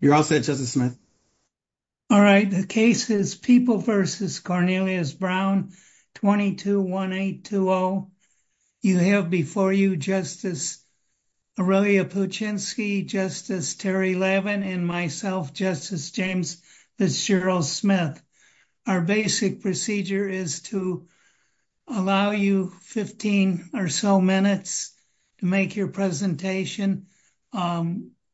You're all set, Justice Smith. All right, the case is People v. Cornelius Brown, 221820. You have before you Justice Aurelia Puchinsky, Justice Terry Levin, and myself, Justice James Fitzgerald Smith. Our basic procedure is to allow you 15 or so minutes to make your presentation.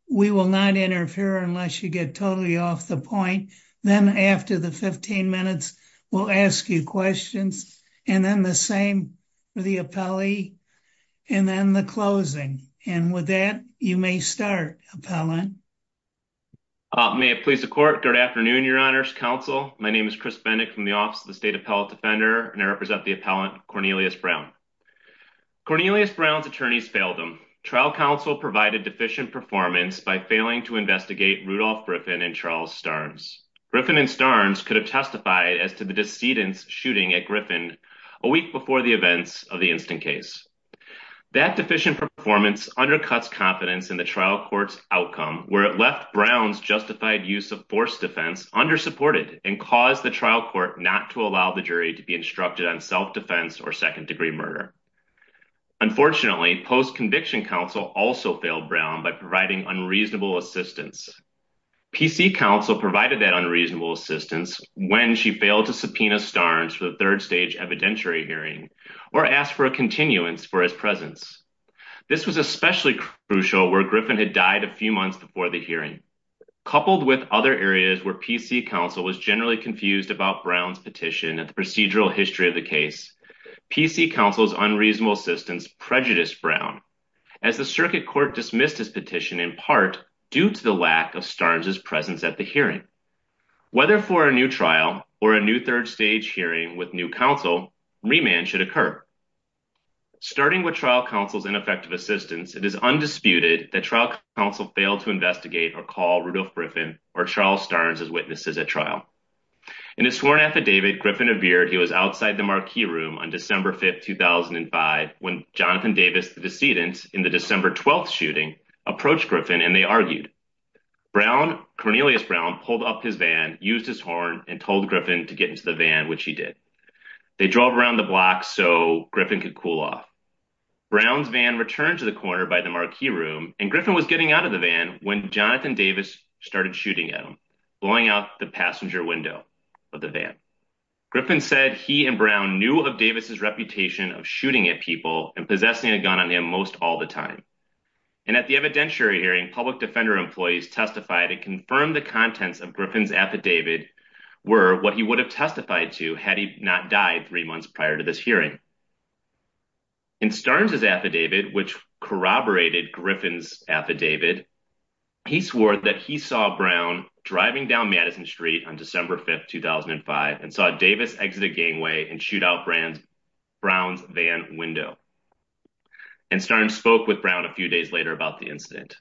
We will not interfere unless you get totally off the point. Then after the 15 minutes, we'll ask you questions, and then the same for the appellee, and then the closing. And with that, you may start, Appellant. Chris Bendick May it please the Court, good afternoon, Your Honor's Counsel. My name is Chris Bendick from the Office of the State Health Defender, and I represent the appellant, Cornelius Brown. Cornelius Brown's attorneys failed him. Trial counsel provided deficient performance by failing to investigate Rudolph Griffin and Charles Starnes. Griffin and Starnes could have testified as to the decedent's shooting at Griffin a week before the events of the instant case. That deficient performance undercuts confidence in the trial court's outcome, where it left Brown's justified use of forced defense under-supported and caused the trial court not to allow the jury to be instructed on self-defense or second-degree murder. Unfortunately, post-conviction counsel also failed Brown by providing unreasonable assistance. PC counsel provided that unreasonable assistance when she failed to subpoena Starnes for the third-stage evidentiary hearing or asked for a continuance for his presence. This was especially crucial where Griffin had died a few years earlier. In other areas where PC counsel was generally confused about Brown's petition and the procedural history of the case, PC counsel's unreasonable assistance prejudiced Brown as the circuit court dismissed his petition in part due to the lack of Starnes' presence at the hearing. Whether for a new trial or a new third-stage hearing with new counsel, remand should occur. Starting with trial counsel's ineffective assistance, it is undisputed that trial counsel failed to investigate or call Rudolph Griffin or Charles Starnes as witnesses at trial. In his sworn affidavit, Griffin appeared he was outside the marquee room on December 5, 2005, when Jonathan Davis, the decedent in the December 12th shooting, approached Griffin and they argued. Brown, Cornelius Brown, pulled up his van, used his horn, and told Griffin to get into the van, which he did. They drove around the block so Griffin could cool off. Brown's van returned to the corner by the marquee room and Griffin was getting out of the van when Jonathan Davis started shooting at him, blowing out the passenger window of the van. Griffin said he and Brown knew of Davis's reputation of shooting at people and possessing a gun on him most all the time. And at the evidentiary hearing, public defender employees testified and confirmed the contents of Griffin's affidavit were what he would have testified to had he not died three months prior to this hearing. In Starnes' affidavit, which corroborated Griffin's affidavit, he swore that he saw Brown driving down Madison Street on December 5, 2005, and saw Davis exit a gangway and shoot out Brown's van window. And Starnes spoke with Brown a few days later about the incident.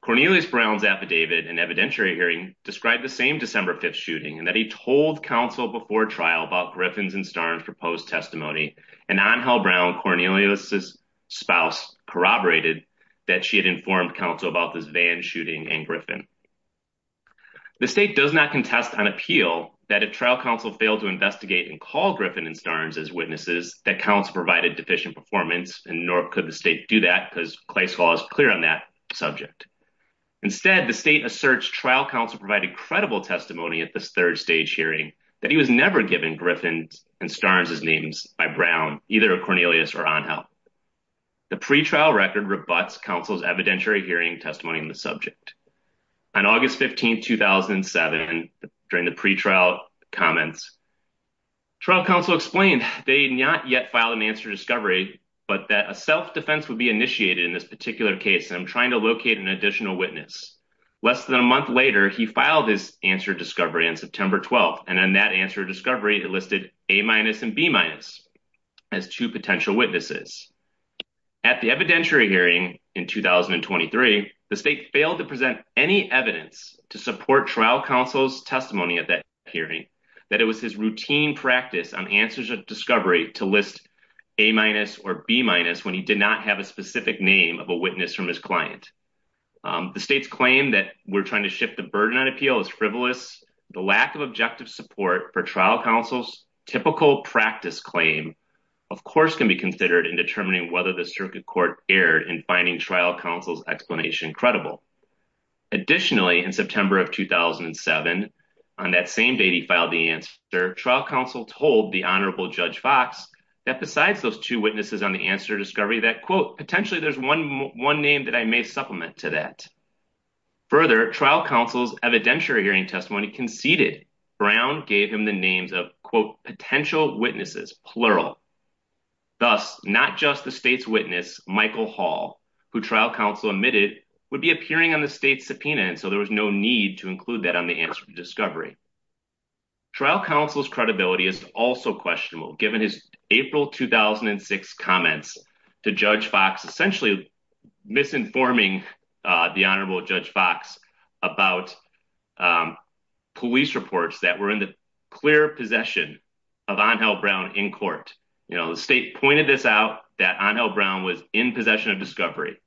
Cornelius Brown's affidavit and evidentiary hearing described the same December shooting and that he told counsel before trial about Griffin's and Starnes' proposed testimony and on how Brown, Cornelius's spouse corroborated that she had informed counsel about this van shooting and Griffin. The state does not contest on appeal that if trial counsel failed to investigate and call Griffin and Starnes as witnesses, that counsel provided deficient performance and nor could the state do that because Clay's law is clear on that subject. Instead, the state asserts trial counsel provided credible testimony at this third stage hearing that he was never given Griffin's and Starnes' names by Brown, either Cornelius or Angel. The pretrial record rebuts counsel's evidentiary hearing testimony on the subject. On August 15, 2007, during the pretrial comments, trial counsel explained they had not yet filed an answer to discovery, but that a self-defense would be initiated in this particular case. I'm trying to locate an additional witness. Less than a month later, he filed his answer discovery on September 12, and on that answer discovery, it listed A-minus and B-minus as two potential witnesses. At the evidentiary hearing in 2023, the state failed to present any evidence to support trial counsel's testimony at that hearing that it was his routine practice on answers of discovery to list A-minus or B-minus when he did not have a specific name of a witness from his client. The state's claim that we're trying to shift the burden on appeal is frivolous. The lack of objective support for trial counsel's typical practice claim, of course, can be considered in determining whether the circuit court erred in finding trial counsel's explanation credible. Additionally, in September of 2007, on that same day he filed the answer, trial counsel told the Honorable Judge Fox that besides those two witnesses on the answer discovery that, quote, potentially there's one name that I may supplement to that. Further, trial counsel's evidentiary hearing testimony conceded Brown gave him the names of, quote, potential witnesses, plural. Thus, not just the state's witness, Michael Hall, who trial counsel admitted would be appearing on the state's subpoena, and so there was no need to include that on the answer discovery. Trial counsel's credibility is also questionable, given his April 2006 comments to Judge Fox, essentially misinforming the Honorable Judge Fox about police reports that were in the clear possession of Angel Brown in court. You know, the state pointed this out that Angel Brown was in possession of discovery.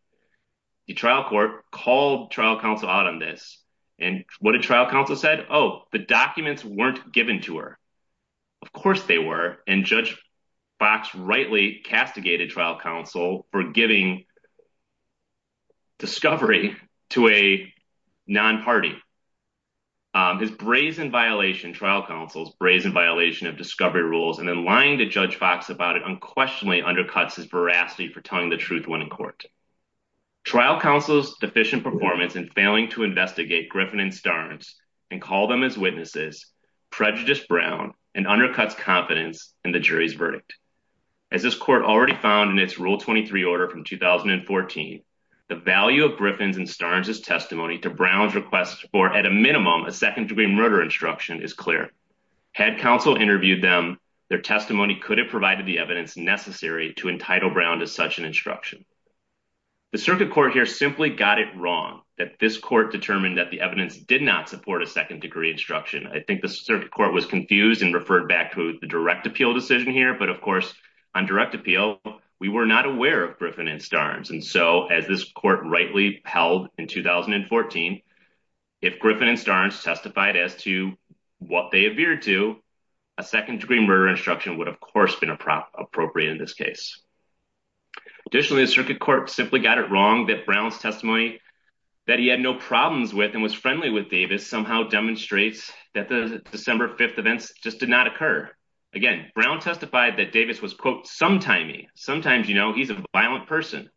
The trial court called trial counsel out on this, and what did trial counsel said? Oh, the documents weren't given to Of course they were, and Judge Fox rightly castigated trial counsel for giving discovery to a non-party. His brazen violation, trial counsel's brazen violation of discovery rules, and then lying to Judge Fox about it unquestionably undercuts his veracity for telling the truth when in court. Trial counsel's deficient performance in failing to investigate Griffin and Starnes and call them as witnesses prejudiced Brown and undercuts confidence in the jury's verdict. As this court already found in its Rule 23 order from 2014, the value of Griffin's and Starnes' testimony to Brown's request for, at a minimum, a second degree murder instruction is clear. Had counsel interviewed them, their testimony could have provided the evidence necessary to entitle Brown to such an instruction. The circuit court here simply got it wrong that this court determined that the evidence did not support a second degree instruction. I think the circuit court was confused and referred back to the direct appeal decision here, but of course on direct appeal, we were not aware of Griffin and Starnes, and so as this court rightly held in 2014, if Griffin and Starnes testified as to what they appeared to, a second degree murder instruction would of course been appropriate in this case. Additionally, the circuit court simply got it wrong that Brown's testimony that he had no problems with and was friendly with Davis somehow demonstrates that the December 5th events just did not occur. Again, Brown testified that Davis was, quote, sometimey. Sometimes, you know, he's a violent person.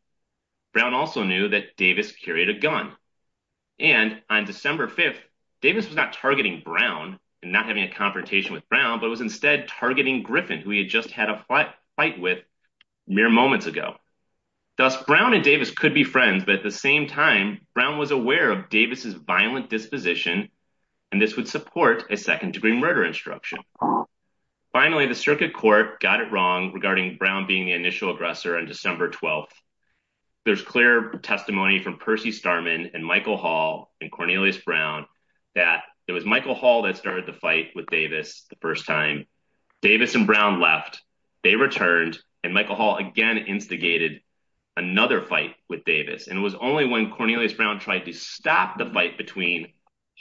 Brown also knew that Davis carried a gun, and on December 5th, Davis was not targeting Brown and not having a confrontation with Brown, but was instead targeting Griffin, who he had just had a fight with mere moments ago. Thus, Brown and Davis could be friends, but at the same time, Brown was aware of Davis's violent disposition, and this would support a second degree murder instruction. Finally, the circuit court got it wrong regarding Brown being the initial aggressor on December 12th. There's clear testimony from Percy Starman and Michael Hall and Cornelius Brown that it was Michael Hall that started the fight with Davis the first time. Davis and Brown left. They returned, and Michael Hall again instigated another fight with Davis, and it was only when Cornelius Brown tried to stop the fight between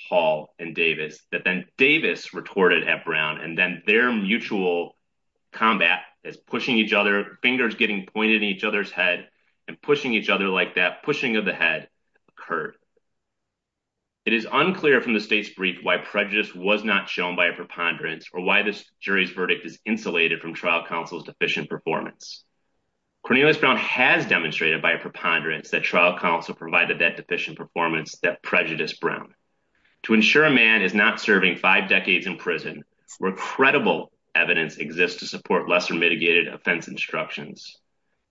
Hall and Davis that then Davis retorted at Brown, and then their mutual combat as pushing each other, fingers getting pointed at each other's head and pushing each other like that, pushing of the head, occurred. It is unclear from the state's brief why prejudice was not shown by a preponderance or why this jury's verdict is insulated from trial counsel's deficient performance. Cornelius Brown has demonstrated by a preponderance that trial counsel provided that deficient performance that prejudiced Brown. To ensure a man is not serving five decades in prison where credible evidence exists to support lesser mitigated offense instructions,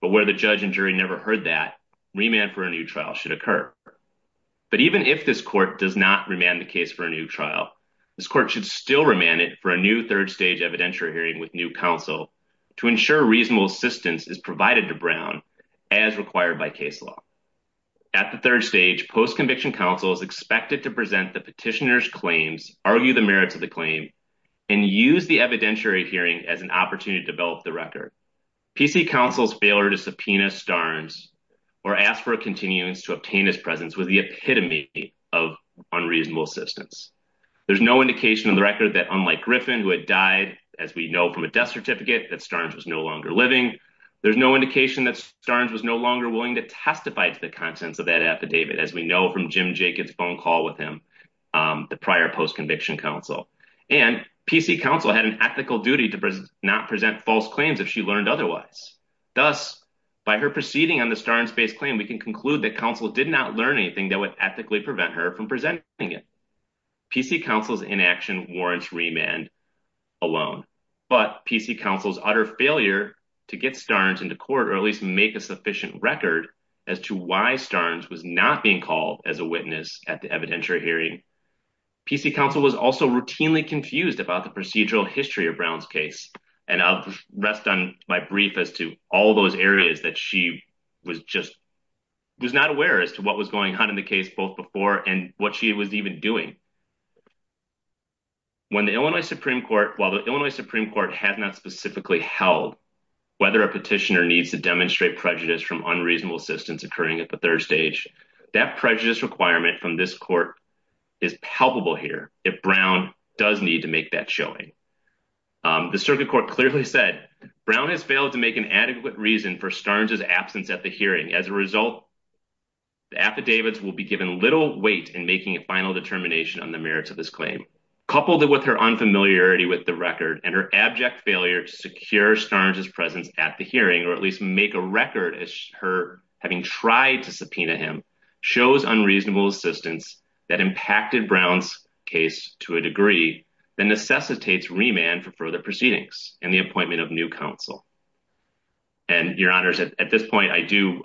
but where the judge and jury never heard that, remand for a new trial should occur. But even if this court does not remand the case for a new trial, this court should still remand it for a new third stage evidentiary hearing with new counsel to ensure reasonable assistance is provided to Brown as required by case law. At the third stage, post-conviction counsel is expected to present the petitioner's claims, argue the merits of the claim, and use the evidentiary hearing as an opportunity to develop the record. PC counsel's failure to subpoena Starnes or ask for a continuance to obtain his presence was the epitome of unreasonable assistance. There's no indication on the record that, unlike Griffin, who had died, as we know from a death certificate, that Starnes was no longer living. There's no indication that Starnes was no longer willing to testify to the contents of that affidavit, as we know from Jim Jacobs' phone call with him, the prior post-conviction counsel. And PC counsel had an ethical duty to not present false claims if she learned otherwise. Thus, by her proceeding on the Starnes-based claim, we can conclude that counsel did not learn anything that would ethically prevent her from presenting it. PC counsel's inaction warrants remand alone, but PC counsel's utter failure to get Starnes into court or at least make a sufficient record as to why Starnes was not being called as a witness at the evidentiary hearing. PC counsel was also routinely confused about the procedural history of Brown's case. And I'll rest on my brief as to all those areas that she was just, was not aware as to what was going on in the case both before and what she was even doing. When the Illinois Supreme Court, while the Illinois Supreme Court has not specifically held whether a petitioner needs to demonstrate prejudice from unreasonable assistance occurring at the third stage, that prejudice requirement from this court is palpable here if Brown does need to make that showing. The circuit court clearly said Brown has failed to make an adequate reason for Starnes' absence at the hearing. As a result, the affidavits will be given little weight in making a final determination on the merits of this claim. Coupled with her unfamiliarity with the record and her abject failure to secure Starnes' presence at the hearing or at least make a record as her having tried to subpoena him shows unreasonable assistance that impacted Brown's case to a degree that necessitates remand for further proceedings and the appointment of new counsel. And your honors, at this point, I do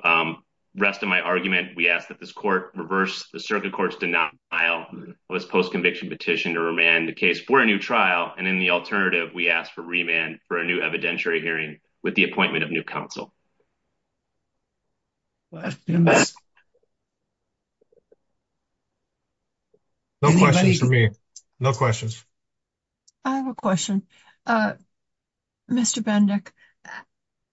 rest on my argument. We ask that this court reverse the circuit court's denial of its post-conviction petition to remand the case for a new trial. And in the alternative, we ask for remand for a new evidentiary hearing with the appointment of new counsel. No questions for me. No questions. I have a question. Mr. Bendick,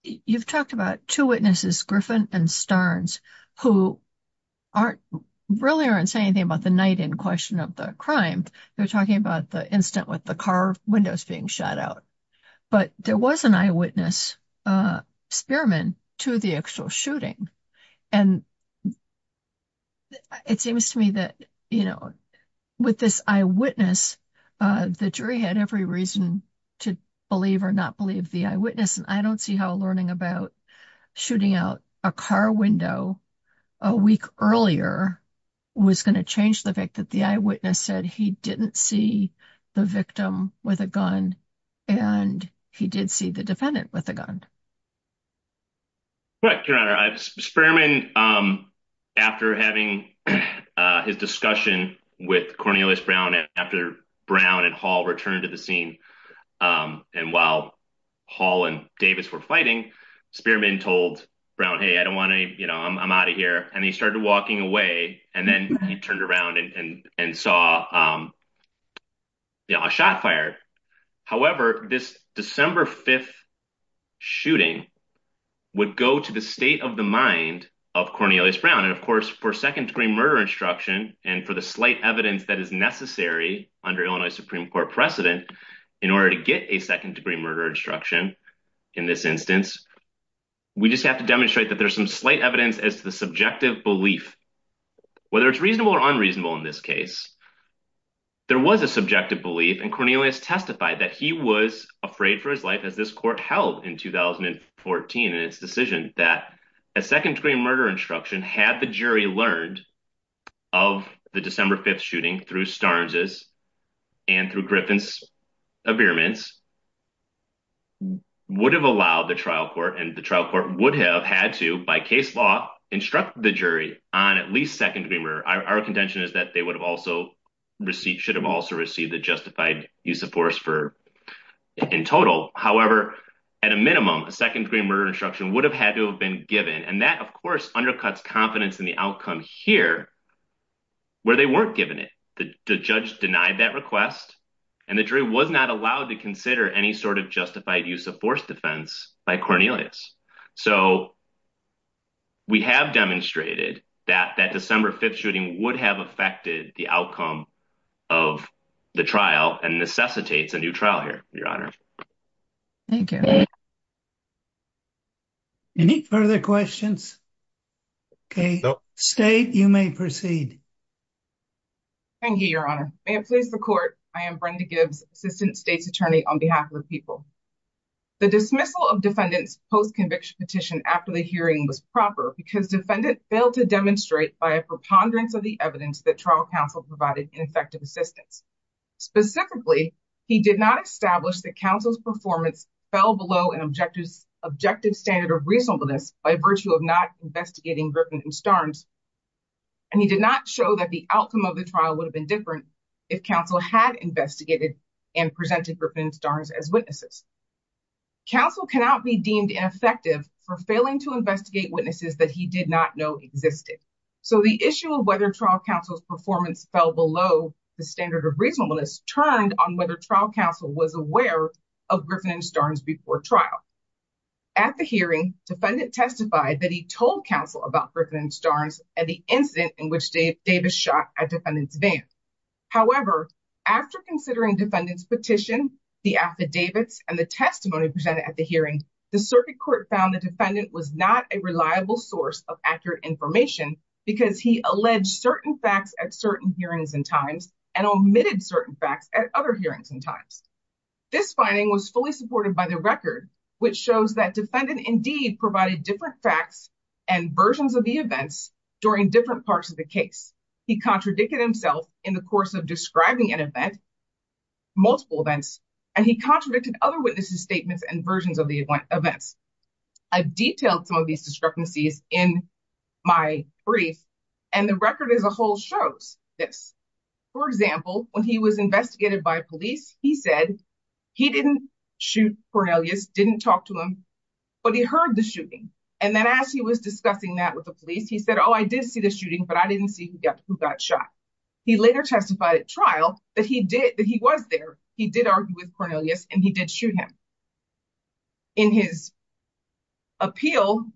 you've talked about two witnesses, Griffin and Starnes, who really aren't saying anything about the night-in question of the crime. They're talking about the incident with the car windows being shut out. But there was an eyewitness spearman to the actual shooting. And it seems to me that with this eyewitness, the jury had every reason to believe or not believe the eyewitness. And I don't see how learning about shooting out a car window a week earlier was going to change the fact that the gun. Right, your honor. Spearman, after having his discussion with Cornelius Brown, and after Brown and Hall returned to the scene, and while Hall and Davis were fighting, Spearman told Brown, hey, I don't want to, you know, I'm out of here. And he started walking away. And then he turned around and saw a shot fired. However, this December 5th shooting would go to the state of the mind of Cornelius Brown. And of course, for second degree murder instruction, and for the slight evidence that is necessary under Illinois Supreme Court precedent, in order to get a second degree murder instruction, in this instance, we just have to demonstrate that there's slight evidence as to the subjective belief, whether it's reasonable or unreasonable in this case, there was a subjective belief and Cornelius testified that he was afraid for his life as this court held in 2014. And its decision that a second degree murder instruction had the jury learned of the December 5th shooting through Starnes's and through Griffin's appearance would have allowed the trial court and the trial court would have had to, by case law, instruct the jury on at least second degree murder. Our contention is that they would have also received, should have also received the justified use of force for in total. However, at a minimum, a second degree murder instruction would have had to have been given. And that, of course, undercuts confidence in the outcome here, where they weren't given it. The judge denied that request and the jury was not allowed to consider any sort of justified use of force defense by Cornelius. So we have demonstrated that that December 5th shooting would have affected the outcome of the trial and necessitates a new trial here, Your Honor. Thank you. Any further questions? Okay, State, you may proceed. Thank you, Your Honor. May it please the court, I am Brenda Gibbs, Assistant State's Attorney on behalf of the people. The dismissal of defendant's post-conviction petition after the hearing was proper because defendant failed to demonstrate by a preponderance of the evidence that trial counsel provided in effective assistance. Specifically, he did not establish that counsel's performance fell below an objective standard of reasonableness by virtue of not investigating Griffin and Starnes. And he did not show that the outcome of the trial would have been different if counsel had investigated and presented Griffin and Starnes as witnesses. Counsel cannot be deemed ineffective for failing to investigate witnesses that he did not know existed. So the issue of whether trial counsel's performance fell below the standard of reasonableness turned on whether trial counsel was aware of Griffin and Starnes before trial. At the hearing, defendant testified that he told counsel about Griffin and Starnes at the incident in which Davis shot at defendant's van. However, after considering defendant's petition, the affidavits, and the testimony presented at the hearing, the circuit court found the defendant was not a reliable source of accurate information because he alleged certain facts at certain hearings and times and omitted certain facts at other hearings and times. This finding was fully supported by the record, which shows that defendant indeed provided different facts and versions of the events during different parts of the case. He contradicted himself in the course of describing an event, multiple events, and he contradicted other witnesses' statements and versions of the events. I've detailed some of these discrepancies in my brief, and the record as a whole shows this. For example, when he was investigated by police, he said he didn't shoot Cornelius, didn't talk to him, but he heard the shooting. And then as he was discussing that with the police, he said, oh, I did see the shooting, but I didn't see who got shot. He later testified at trial that he did, that he was there, he did argue with Cornelius, and he did shoot him. In his appeal,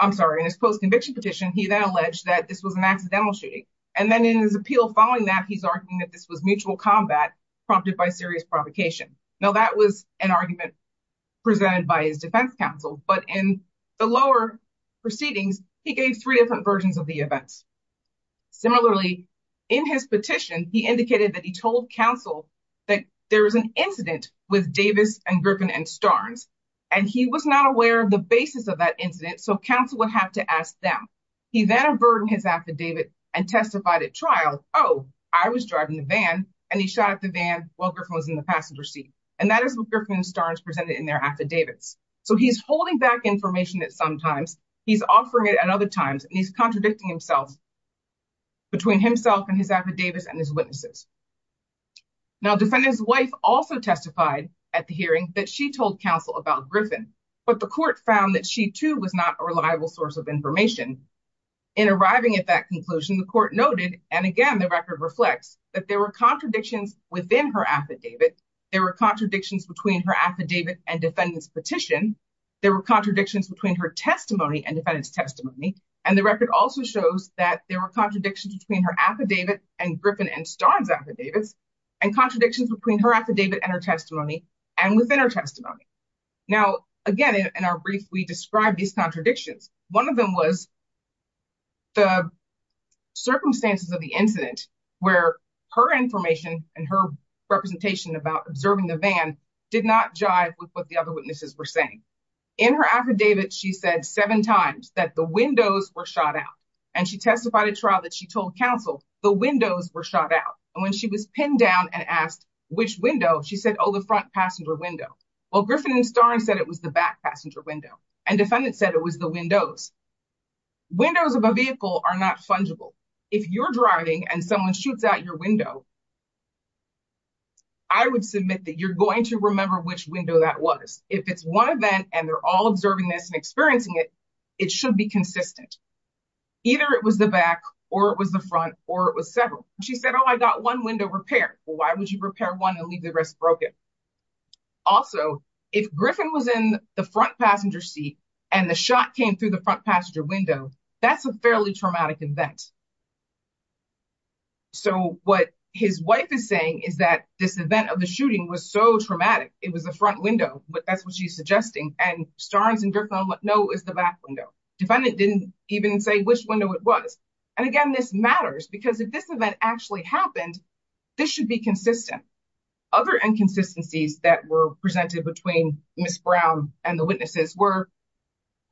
I'm sorry, in his post-conviction petition, he then alleged that this was an accidental shooting. And then in his appeal following that, he's arguing that this was mutual combat prompted by serious provocation. Now, that was an argument presented by his defense counsel, but in the lower proceedings, he gave three different versions of the events. Similarly, in his petition, he indicated that he told counsel that there was an incident with Davis and Griffin and Starnes, and he was not aware of the basis of that incident, so counsel would have to ask them. He then averted his affidavit and testified at trial, oh, I was driving the van, and he shot at the van while Griffin was in the passenger seat. And that is what Griffin and Starnes presented in their affidavits. So he's holding back information at some times, he's offering it at other times, and he's contradicting himself between himself and his affidavits and his witnesses. Now, defendant's wife also testified at the hearing that she told counsel about Griffin, but the court found that she too was not a reliable source of information. In arriving at that conclusion, the court noted, and again, the record reflects, that there were contradictions within her affidavit, there were contradictions between her affidavit and defendant's petition, there were contradictions between her testimony and defendant's testimony. And the record also shows that there were contradictions between her affidavit and Griffin and Starnes' affidavits, and contradictions between her affidavit and her testimony, and within her testimony. Now, again, in our brief, we describe these contradictions. One of them was the circumstances of the incident, where her information and her representation about observing the van did not jive with what the other witnesses were saying. In her affidavit, she said seven times that the windows were shot out. And she testified at trial that she told counsel, the windows were shot out. And when she was pinned down and asked, which window, she said, oh, the front passenger window. Well, Griffin and Starnes said it was the back passenger window, and defendant said it was the windows. Windows of a vehicle are not fungible. If you're driving and someone shoots out your window, I would submit that you're going to remember which window that was. If it's one event, and they're all observing this and experiencing it, it should be consistent. Either it was the back, or it was the front, or it was several. She said, oh, I got one window repaired. Well, would you repair one and leave the rest broken? Also, if Griffin was in the front passenger seat, and the shot came through the front passenger window, that's a fairly traumatic event. So what his wife is saying is that this event of the shooting was so traumatic, it was the front window. That's what she's suggesting. And Starnes and Griffin know it was the back window. Defendant didn't even say which window it was. And again, this matters, because if this event actually happened, this should be consistent. Other inconsistencies that were presented between Ms. Brown and the witnesses were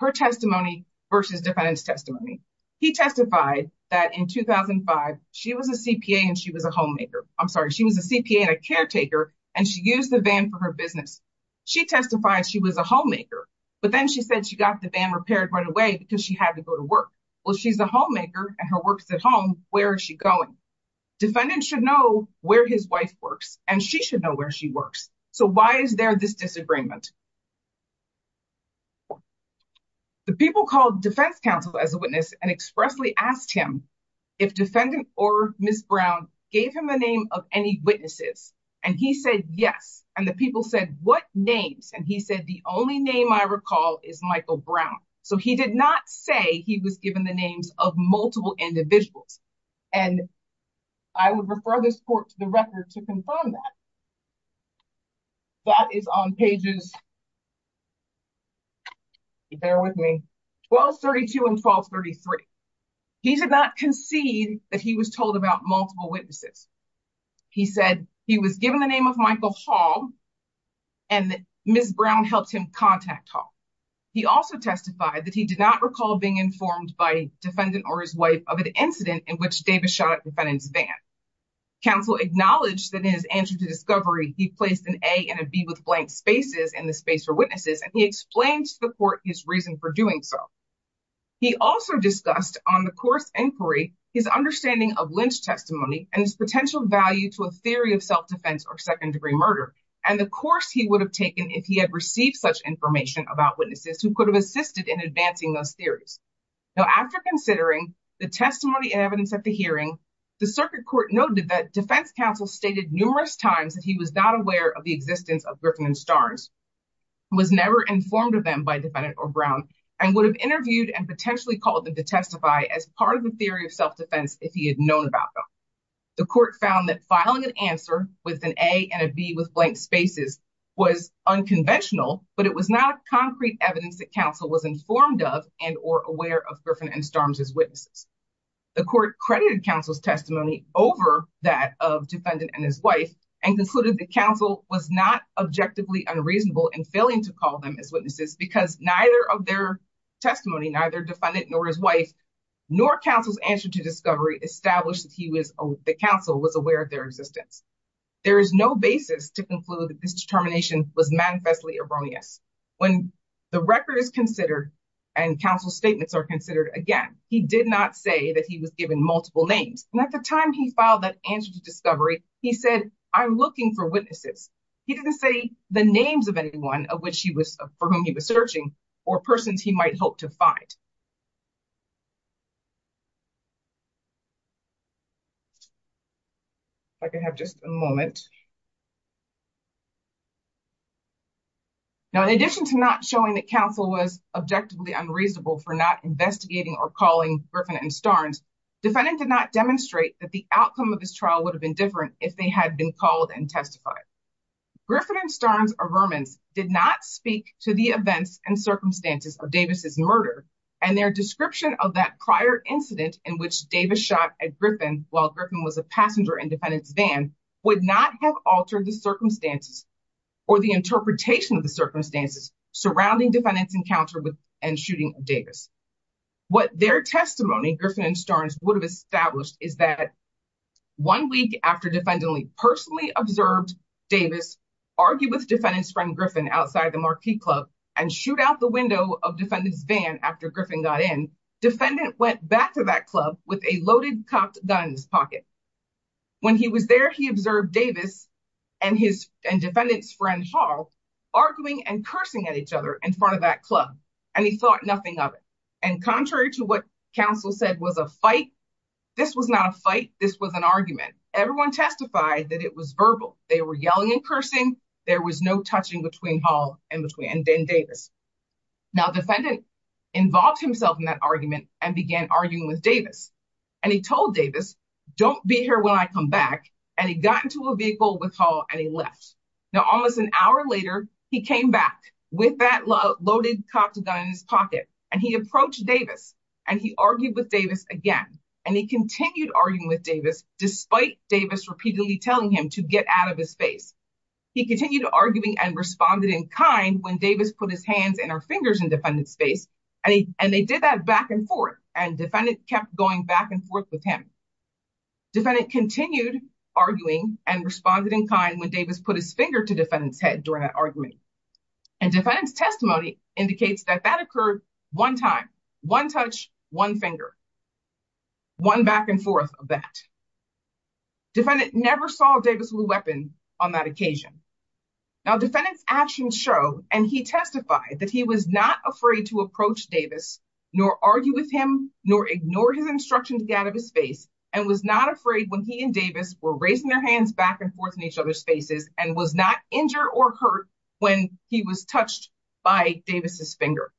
her testimony versus defendant's testimony. He testified that in 2005, she was a CPA and she was a homemaker. I'm sorry, she was a CPA and a caretaker, and she used the van for her business. She testified she was a homemaker, but then she said she got the van repaired right away because she had to go to work. Well, she's a homemaker and her work's at home. Where is she going? Defendant should know where his wife works, and she should know where she works. So why is there this disagreement? The people called defense counsel as a witness and expressly asked him if defendant or Ms. Brown gave him a name of any witnesses. And he said, yes. And the people said, what names? And he said, the only name I recall is Michael Brown. So he did not say he was given the names of multiple individuals. And I would refer this court to the record to confirm that. That is on pages, bear with me, 1232 and 1233. He did not concede that he was told about multiple witnesses. He said he was given the name of Michael Hall, and Ms. Brown helped him contact Hall. He also testified that he did not recall being informed by defendant or his wife of an incident in which Davis shot at defendant's van. Counsel acknowledged that in his answer to discovery, he placed an A and a B with blank spaces in the space for witnesses, and he explained to the court his reason for doing so. He also discussed on the course inquiry, his understanding of Lynch testimony and its potential value to a theory of self-defense or second-degree murder, and the course he would have taken if he had received such information about witnesses who could have assisted in advancing those theories. Now, after considering the testimony and evidence at the hearing, the circuit court noted that defense counsel stated numerous times that he was not aware of the existence of Griffin and Starnes, was never informed of them by defendant or Brown, and would have interviewed and potentially called them to testify as part of a theory of self-defense if he had known about them. The court found that filing an answer with an A and a B with blank spaces was unconventional, but it was not concrete evidence that counsel was informed of and or aware of Griffin and Starnes as witnesses. The court credited counsel's testimony over that of defendant and his wife and concluded that counsel was not objectively unreasonable in failing to call them as witnesses because neither of their testimony, neither defendant nor his wife, nor counsel's answer to discovery established that the counsel was aware of their existence. There is no basis to conclude that this determination was manifestly erroneous. When the record is considered and counsel's statements are considered again, he did not say that he was given multiple names, and at the time he filed that answer to discovery, he said, I'm looking for witnesses. He didn't say the names of anyone for whom he was searching or persons he might hope to find. If I could have just a moment. Now, in addition to not showing that counsel was objectively unreasonable for not investigating or calling Griffin and Starnes, defendant did not demonstrate that the outcome of his trial would have been different if they had been called and testified. Griffin and Starnes are vermins, did not speak to the events and circumstances of Davis's murder and their description of that prior incident in which Davis shot at Griffin while Griffin was a passenger in defendant's van would not have altered the circumstances or the interpretation of the circumstances surrounding defendant's encounter with and shooting Davis. What their testimony, Griffin and Starnes would have established is that one week after defendant only personally observed Davis argue with defendant's friend Griffin outside the marquee club and shoot out the window of defendant's van after Griffin got in, defendant went back to that club with a loaded cocked gun in his pocket. When he was there, he observed Davis and defendant's friend Hall arguing and cursing at each other in front of that club, and he thought nothing of it. And contrary to what counsel said was a fight, this was not a fight, this was an argument. Everyone testified that it was verbal, they were yelling and cursing, there was no touching between Hall and Davis. Now defendant involved himself in that argument and began arguing with Davis, and he told Davis, don't be here when I come back, and he got into a vehicle with Hall and he left. Now almost an hour later, he came back with that loaded cocked gun in his pocket, and he approached Davis, and he argued with Davis again, and he continued arguing with Davis despite Davis repeatedly telling him to get out of his face. He continued arguing and responded in kind when Davis put his hands and our fingers in defendant's face, and they did that back and forth, and defendant kept going back and forth with him. Defendant continued arguing and responded in kind when Davis put his finger to defendant's head during that argument. And defendant's testimony indicates that that occurred one time, one touch, one finger, one back and forth of that. Defendant never saw Davis with a weapon on that occasion. Now defendant's actions show, and he testified, that he was not afraid to approach Davis, nor argue with him, nor ignore his instruction to get out of his face, and was not afraid when he and Davis were raising their back and forth in each other's faces, and was not injured or hurt when he was touched by Davis's finger.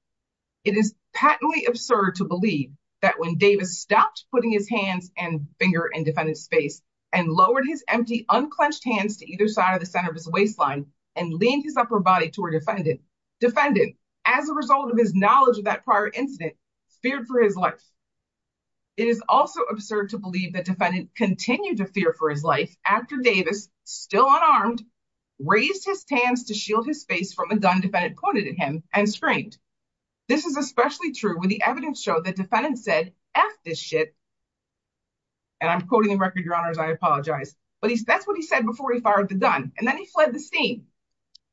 It is patently absurd to believe that when Davis stopped putting his hands and finger in defendant's face, and lowered his empty, unclenched hands to either side of the center of his waistline, and leaned his upper body toward defendant, defendant, as a result of his knowledge of that prior incident, feared for his life. It is also absurd to believe that defendant continued to fear for his life after Davis, still unarmed, raised his hands to shield his face from a gun defendant pointed at him and screamed. This is especially true when the evidence showed that defendant said, F this shit. And I'm quoting the record, your honors, I apologize. But that's what he said before he fired the gun. And then he fled the scene,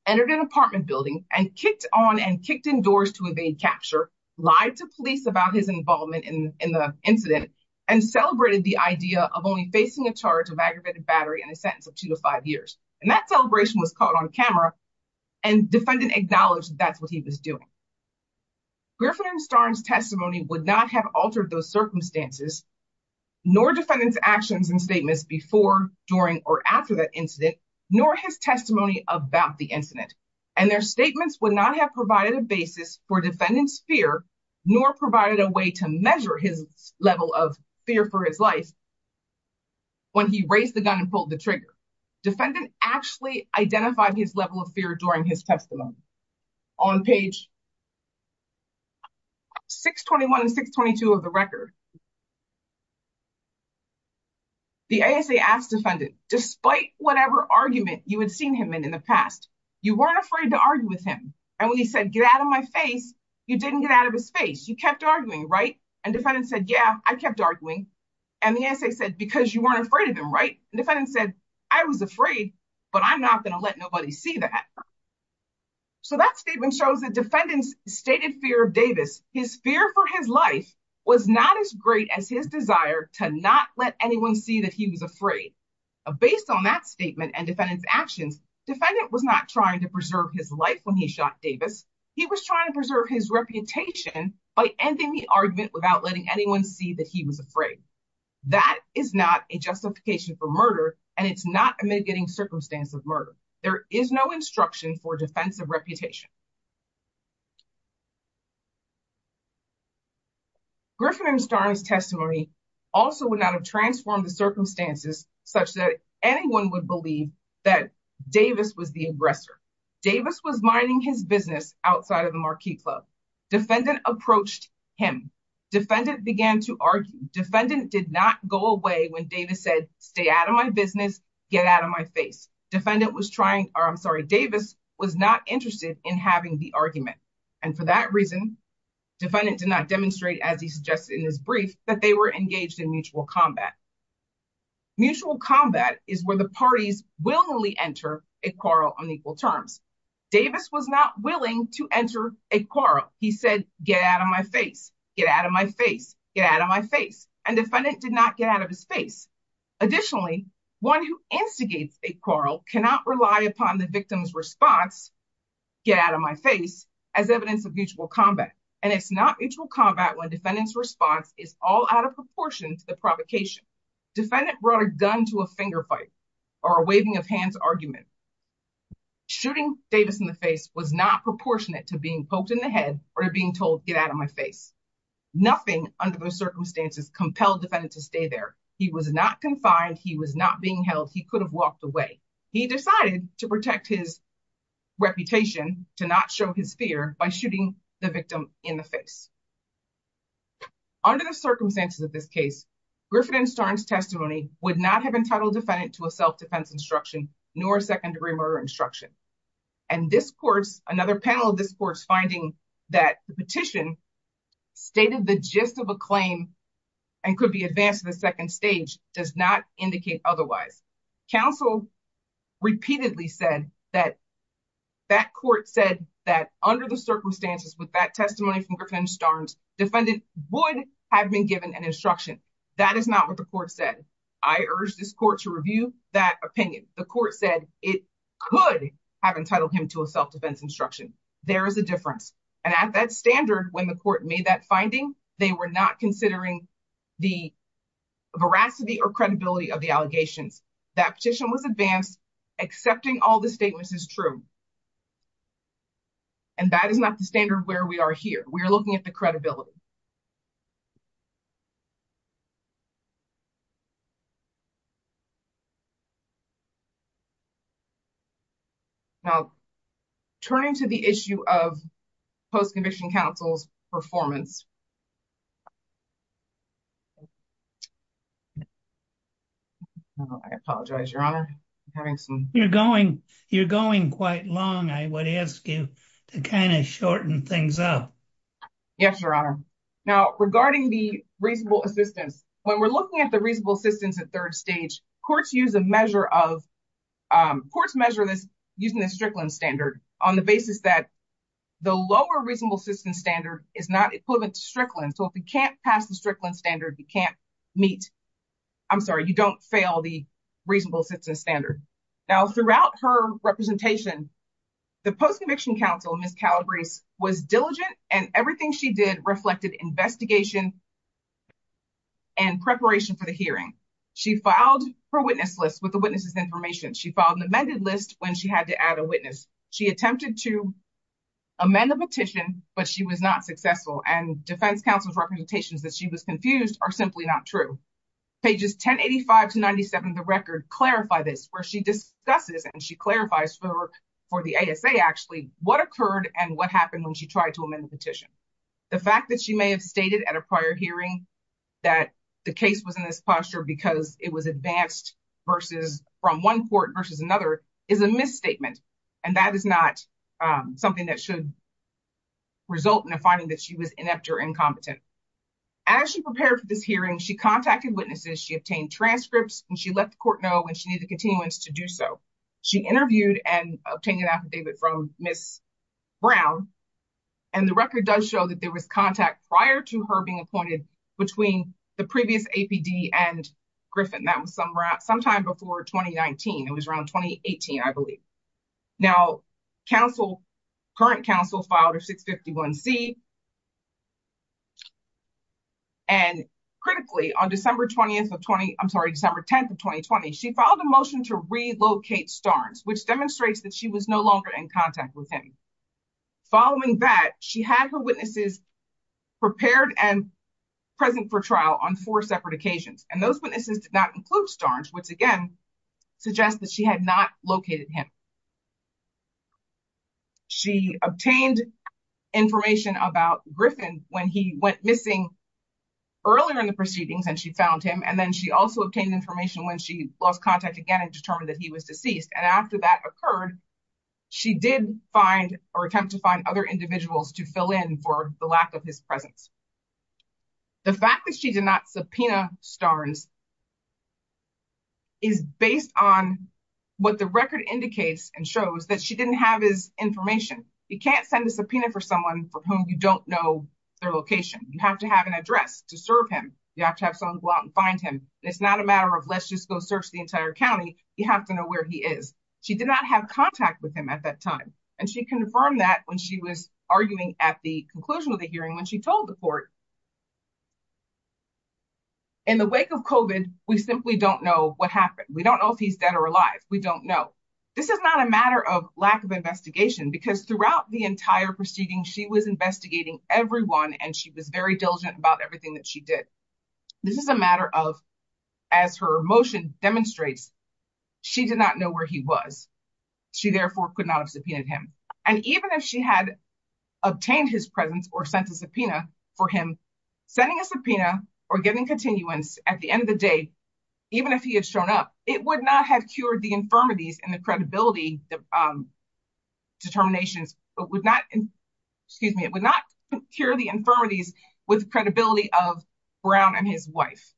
entered an apartment building, and kicked on and kicked in doors to evade capture, lied to police about his involvement in the incident, and celebrated the idea of only facing a charge of aggravated battery and a sentence of two to five years. And that celebration was caught on camera. And defendant acknowledged that's what he was doing. Griffin and Starnes testimony would not have altered those circumstances, nor defendants actions and statements before, during or after that incident, nor his testimony about the incident. And their statements would not have provided a basis for defendants fear, nor provided a way to measure his level of fear for his life. When he raised the gun and pulled the trigger. Defendant actually identified his level of fear during his testimony. On page 621 and 622 of the record, the ASA asked defendant, despite whatever argument you had seen him in in the past, you weren't afraid to argue with him. And when he said get out of my face, you didn't get out of his face. You kept arguing, right? And defendant said, yeah, I kept arguing. And the ASA said, because you weren't afraid of him, right? Defendant said, I was afraid, but I'm not going to let nobody see that. So that statement shows that defendants stated fear of Davis, his fear for his life was not as great as his desire to not let anyone see that he was afraid. Based on that statement and defendants actions, defendant was not trying to his life when he shot Davis. He was trying to preserve his reputation by ending the argument without letting anyone see that he was afraid. That is not a justification for murder. And it's not a mitigating circumstance of murder. There is no instruction for defensive reputation. Griffin and Starnes testimony also would not have transformed the circumstances such that anyone would believe that Davis was the aggressor. Davis was minding his business outside of the Marquis Club. Defendant approached him. Defendant began to argue. Defendant did not go away when Davis said, stay out of my business, get out of my face. Defendant was trying, or I'm sorry, Davis was not interested in having the argument. And for that reason, defendant did not demonstrate as he suggested in his brief, that they were engaged in mutual combat. Mutual combat is where the parties willingly enter a quarrel on equal terms. Davis was not willing to enter a quarrel. He said, get out of my face, get out of my face, get out of my face. And defendant did not get out of his face. Additionally, one who instigates a quarrel cannot rely upon the victim's response, get out of my face, as evidence of mutual combat. And it's not mutual combat when defendant's response is all out of proportion to the provocation. Defendant brought a gun to a finger fight or a waving of hands argument. Shooting Davis in the face was not proportionate to being poked in the head or being told, get out of my face. Nothing under those circumstances compelled defendant to stay there. He was not confined. He was not being held. He could have walked away. He decided to protect his reputation, to not show his fear by shooting the victim in the face. Under the circumstances of this case, Griffin and Starnes testimony would not have entitled defendant to a self-defense instruction, nor a second degree murder instruction. And this court's, another panel of this court's finding that the petition stated the gist of a claim and could be advanced to the second stage does not indicate otherwise. Counsel repeatedly said that that court said that under the circumstances with that testimony from Griffin Starnes, defendant would have been given an instruction. That is not what the court said. I urge this court to review that opinion. The court said it could have entitled him to a self-defense instruction. There is a difference. And at that standard, when the court made that finding, they were not considering the veracity or credibility of the allegations. That petition was advanced. Accepting all the statements is true. And that is not the standard where we are here. We are looking at the credibility. Now, turning to the issue of post-conviction counsel's performance. I apologize, your honor. You're going, you're going quite long. I would ask you to kind of shorten things up. Yes, your honor. Now, regarding the reasonable assistance, when we're looking at the reasonable assistance at third stage, courts use a measure of, courts measure this using the Strickland standard on the basis that the lower reasonable assistance standard is not equivalent to Strickland. So if we can't pass the Strickland standard, we can't meet, I'm sorry, you don't fail the reasonable assistance standard. Now, throughout her representation, the post-conviction counsel, Ms. Calabrese was diligent and everything she did reflected investigation and preparation for the hearing. She filed her witness list with the witness's information. She filed an amended list when she had to add a witness. She attempted to amend the petition, but she was not successful. And defense counsel's representations that she was confused are simply not true. Pages 1085 to 97 of the record clarify this, where she discusses and she clarifies for the ASA actually what occurred and what happened when she tried to amend the petition. The fact that she may have stated at a prior hearing that the case was in this posture because it was advanced from one court versus another is a misstatement. And that is not something that should result in a finding that she was inept or incompetent. As she prepared for this hearing, she contacted witnesses, she obtained transcripts, and she let the court know she needed continuance to do so. She interviewed and obtained an affidavit from Ms. Brown. And the record does show that there was contact prior to her being appointed between the previous APD and Griffin. That was sometime before 2019. It was around 2018, I believe. Now, counsel, current counsel filed a 651C. And critically, on December 20th of 2020, I'm sorry, December 10th of 2020, she filed a motion to relocate Starnes, which demonstrates that she was no longer in contact with him. Following that, she had her witnesses prepared and present for trial on four separate occasions. And those witnesses did not include Starnes, which again, suggests that she had not located him. She obtained information about Griffin when he went missing earlier in the proceedings, and she found him. And then she also obtained information when she lost contact again and determined that he was deceased. And after that occurred, she did find or attempt to find other individuals to fill in for the lack of his presence. The fact that she did not subpoena Starnes is based on what the record indicates and shows that she didn't have his information. You can't send a subpoena for someone for whom you don't know their location. You have to have an address to serve him. You have to have someone go out and find him. It's not a matter of let's just go search the entire county. You have to know where he is. She did not have contact with him at that time. And she confirmed that when she was arguing at the conclusion of the hearing when told the court, in the wake of COVID, we simply don't know what happened. We don't know if he's dead or alive. We don't know. This is not a matter of lack of investigation because throughout the entire proceeding, she was investigating everyone and she was very diligent about everything that she did. This is a matter of, as her motion demonstrates, she did not know where he was. She therefore could not have subpoenaed him. And even if she had obtained his presence or sent a subpoena for him, sending a subpoena or giving continuance at the end of the day, even if he had shown up, it would not have cured the infirmities and the credibility determinations. It would not, excuse me, it would not cure the infirmities with the credibility of Brown and his wife.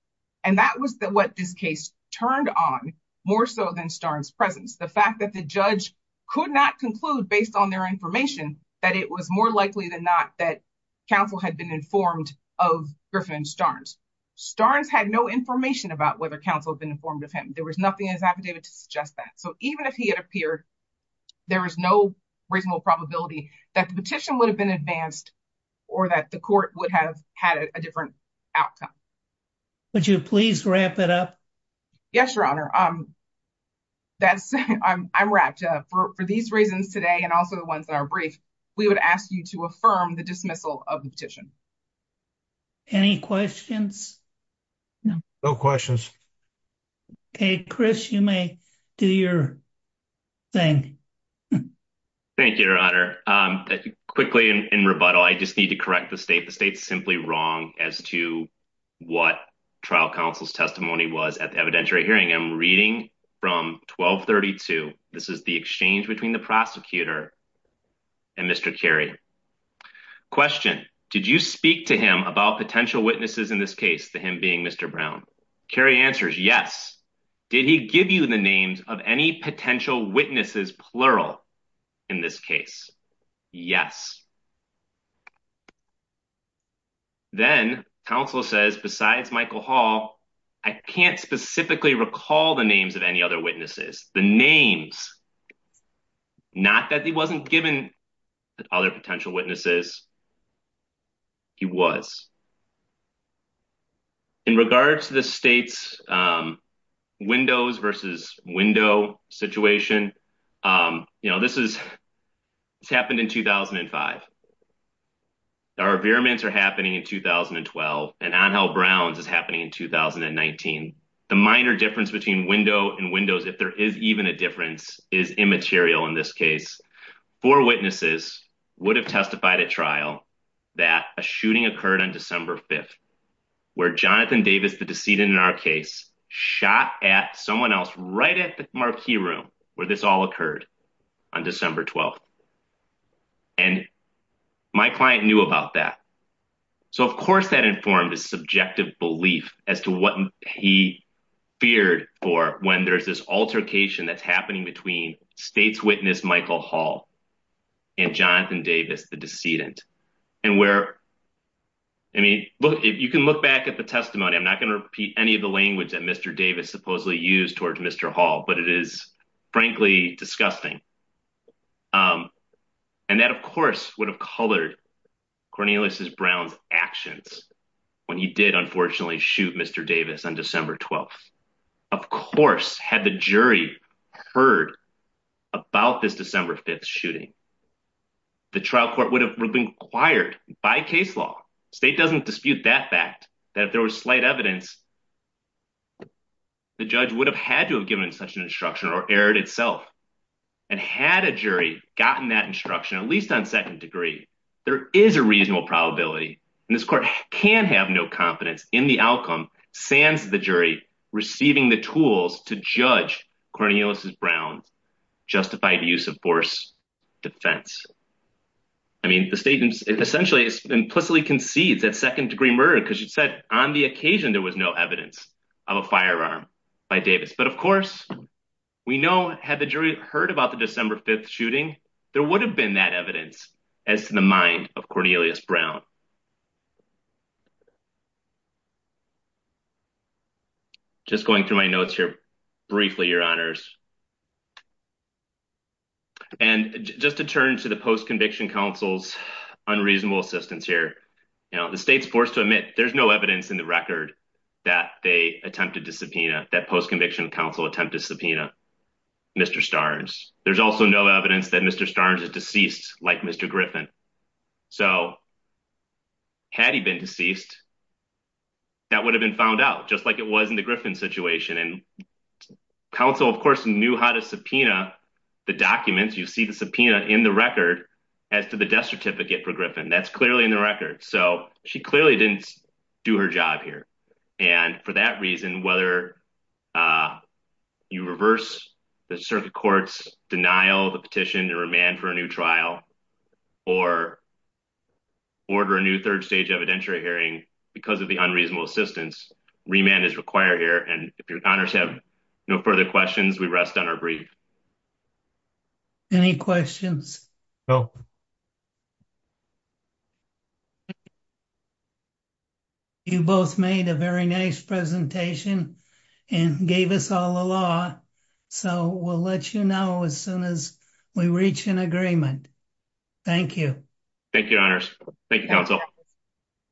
And that was what this case turned on more so than Starnes' presence. The fact that the judge could not conclude based on their information that it was more likely than not that counsel had been informed of Griffin and Starnes. Starnes had no information about whether counsel had been informed of him. There was nothing in his affidavit to suggest that. So even if he had appeared, there was no reasonable probability that the petition would have been advanced or that the court would have had a different outcome. Would you please wrap it up? Yes, your honor. I'm wrapped up. For these reasons today and also the ones that are brief, we would ask you to affirm the dismissal of the petition. Any questions? No questions. Okay, Chris, you may do your thing. Thank you, your honor. Um, quickly in rebuttal, I just need to correct the state. The state's simply wrong as to what trial counsel's testimony was at the evidentiary hearing. I'm reading from 1232. This is the exchange between the prosecutor and Mr. Carey. Question, did you speak to him about potential witnesses in this case to him being Mr. Brown? Carey answers, yes. Did he give you the names of any potential witnesses, plural in this case? Yes. Then counsel says, besides Michael Hall, I can't specifically recall the names of any other witnesses, the names, not that he wasn't given other potential witnesses. He was in regards to the state's, um, windows versus window situation. Um, you know, this is, it's happened in 2005. Our veeraments are happening in 2012 and on how Brown's is happening in 2019. The minor difference between window and windows, if there is even a difference is immaterial. In this case, four witnesses would have testified at trial that a shooting occurred on December 5th, where Jonathan Davis, the decedent in our case shot at someone else right at the marquee room where this all occurred on December 12th. And my client knew about that. So of course that informed his subjective belief as to what he feared for when there's this altercation that's happening between state's witness, Michael Hall and Jonathan Davis, the decedent. And where, I mean, look, if you can look back at the testimony, I'm not going to repeat any of the language that Mr. Davis supposedly used towards Mr. Hall, but it is frankly disgusting. Um, and that of course would have colored Cornelius Brown's actions when he did, unfortunately shoot Mr. Davis on December 12th, of course, had the jury heard about this December 5th shooting, the trial court would have been quiet by case law. State doesn't dispute that if there was slight evidence, the judge would have had to have given such an instruction or erred itself and had a jury gotten that instruction, at least on second degree, there is a reasonable probability. And this court can have no confidence in the outcome, sans the jury receiving the tools to judge Cornelius Brown's justified use of force defense. I mean, the state essentially implicitly concedes that second degree murder, because you said on the occasion, there was no evidence of a firearm by Davis. But of course, we know had the jury heard about the December 5th shooting, there would have been that evidence as to the mind of Cornelius Brown. Just going through my notes here briefly, your honors. And just to turn to the Post-Conviction Council's unreasonable assistance here, the state's forced to admit there's no evidence in the record that they attempted to subpoena, that Post-Conviction Council attempted to subpoena Mr. Starnes. There's also no evidence that Mr. Starnes is deceased like Mr. Griffin. So had he been deceased, that would have been found out just like it was in the Griffin situation. And counsel, of course, knew how to subpoena the documents. You see the subpoena in the record as to the death certificate for Griffin. That's clearly in the record. So she clearly didn't do her job here. And for that reason, whether you reverse the circuit court's denial of the petition to remand for a new trial, or order a new third stage evidentiary hearing because of the unreasonable assistance, remand is required here. And if your honors have no further questions, we rest on our brief. Any questions? You both made a very nice presentation and gave us all the law. So we'll let you know as soon as we reach an agreement. Thank you. Thank you, your honors. Thank you, counsel.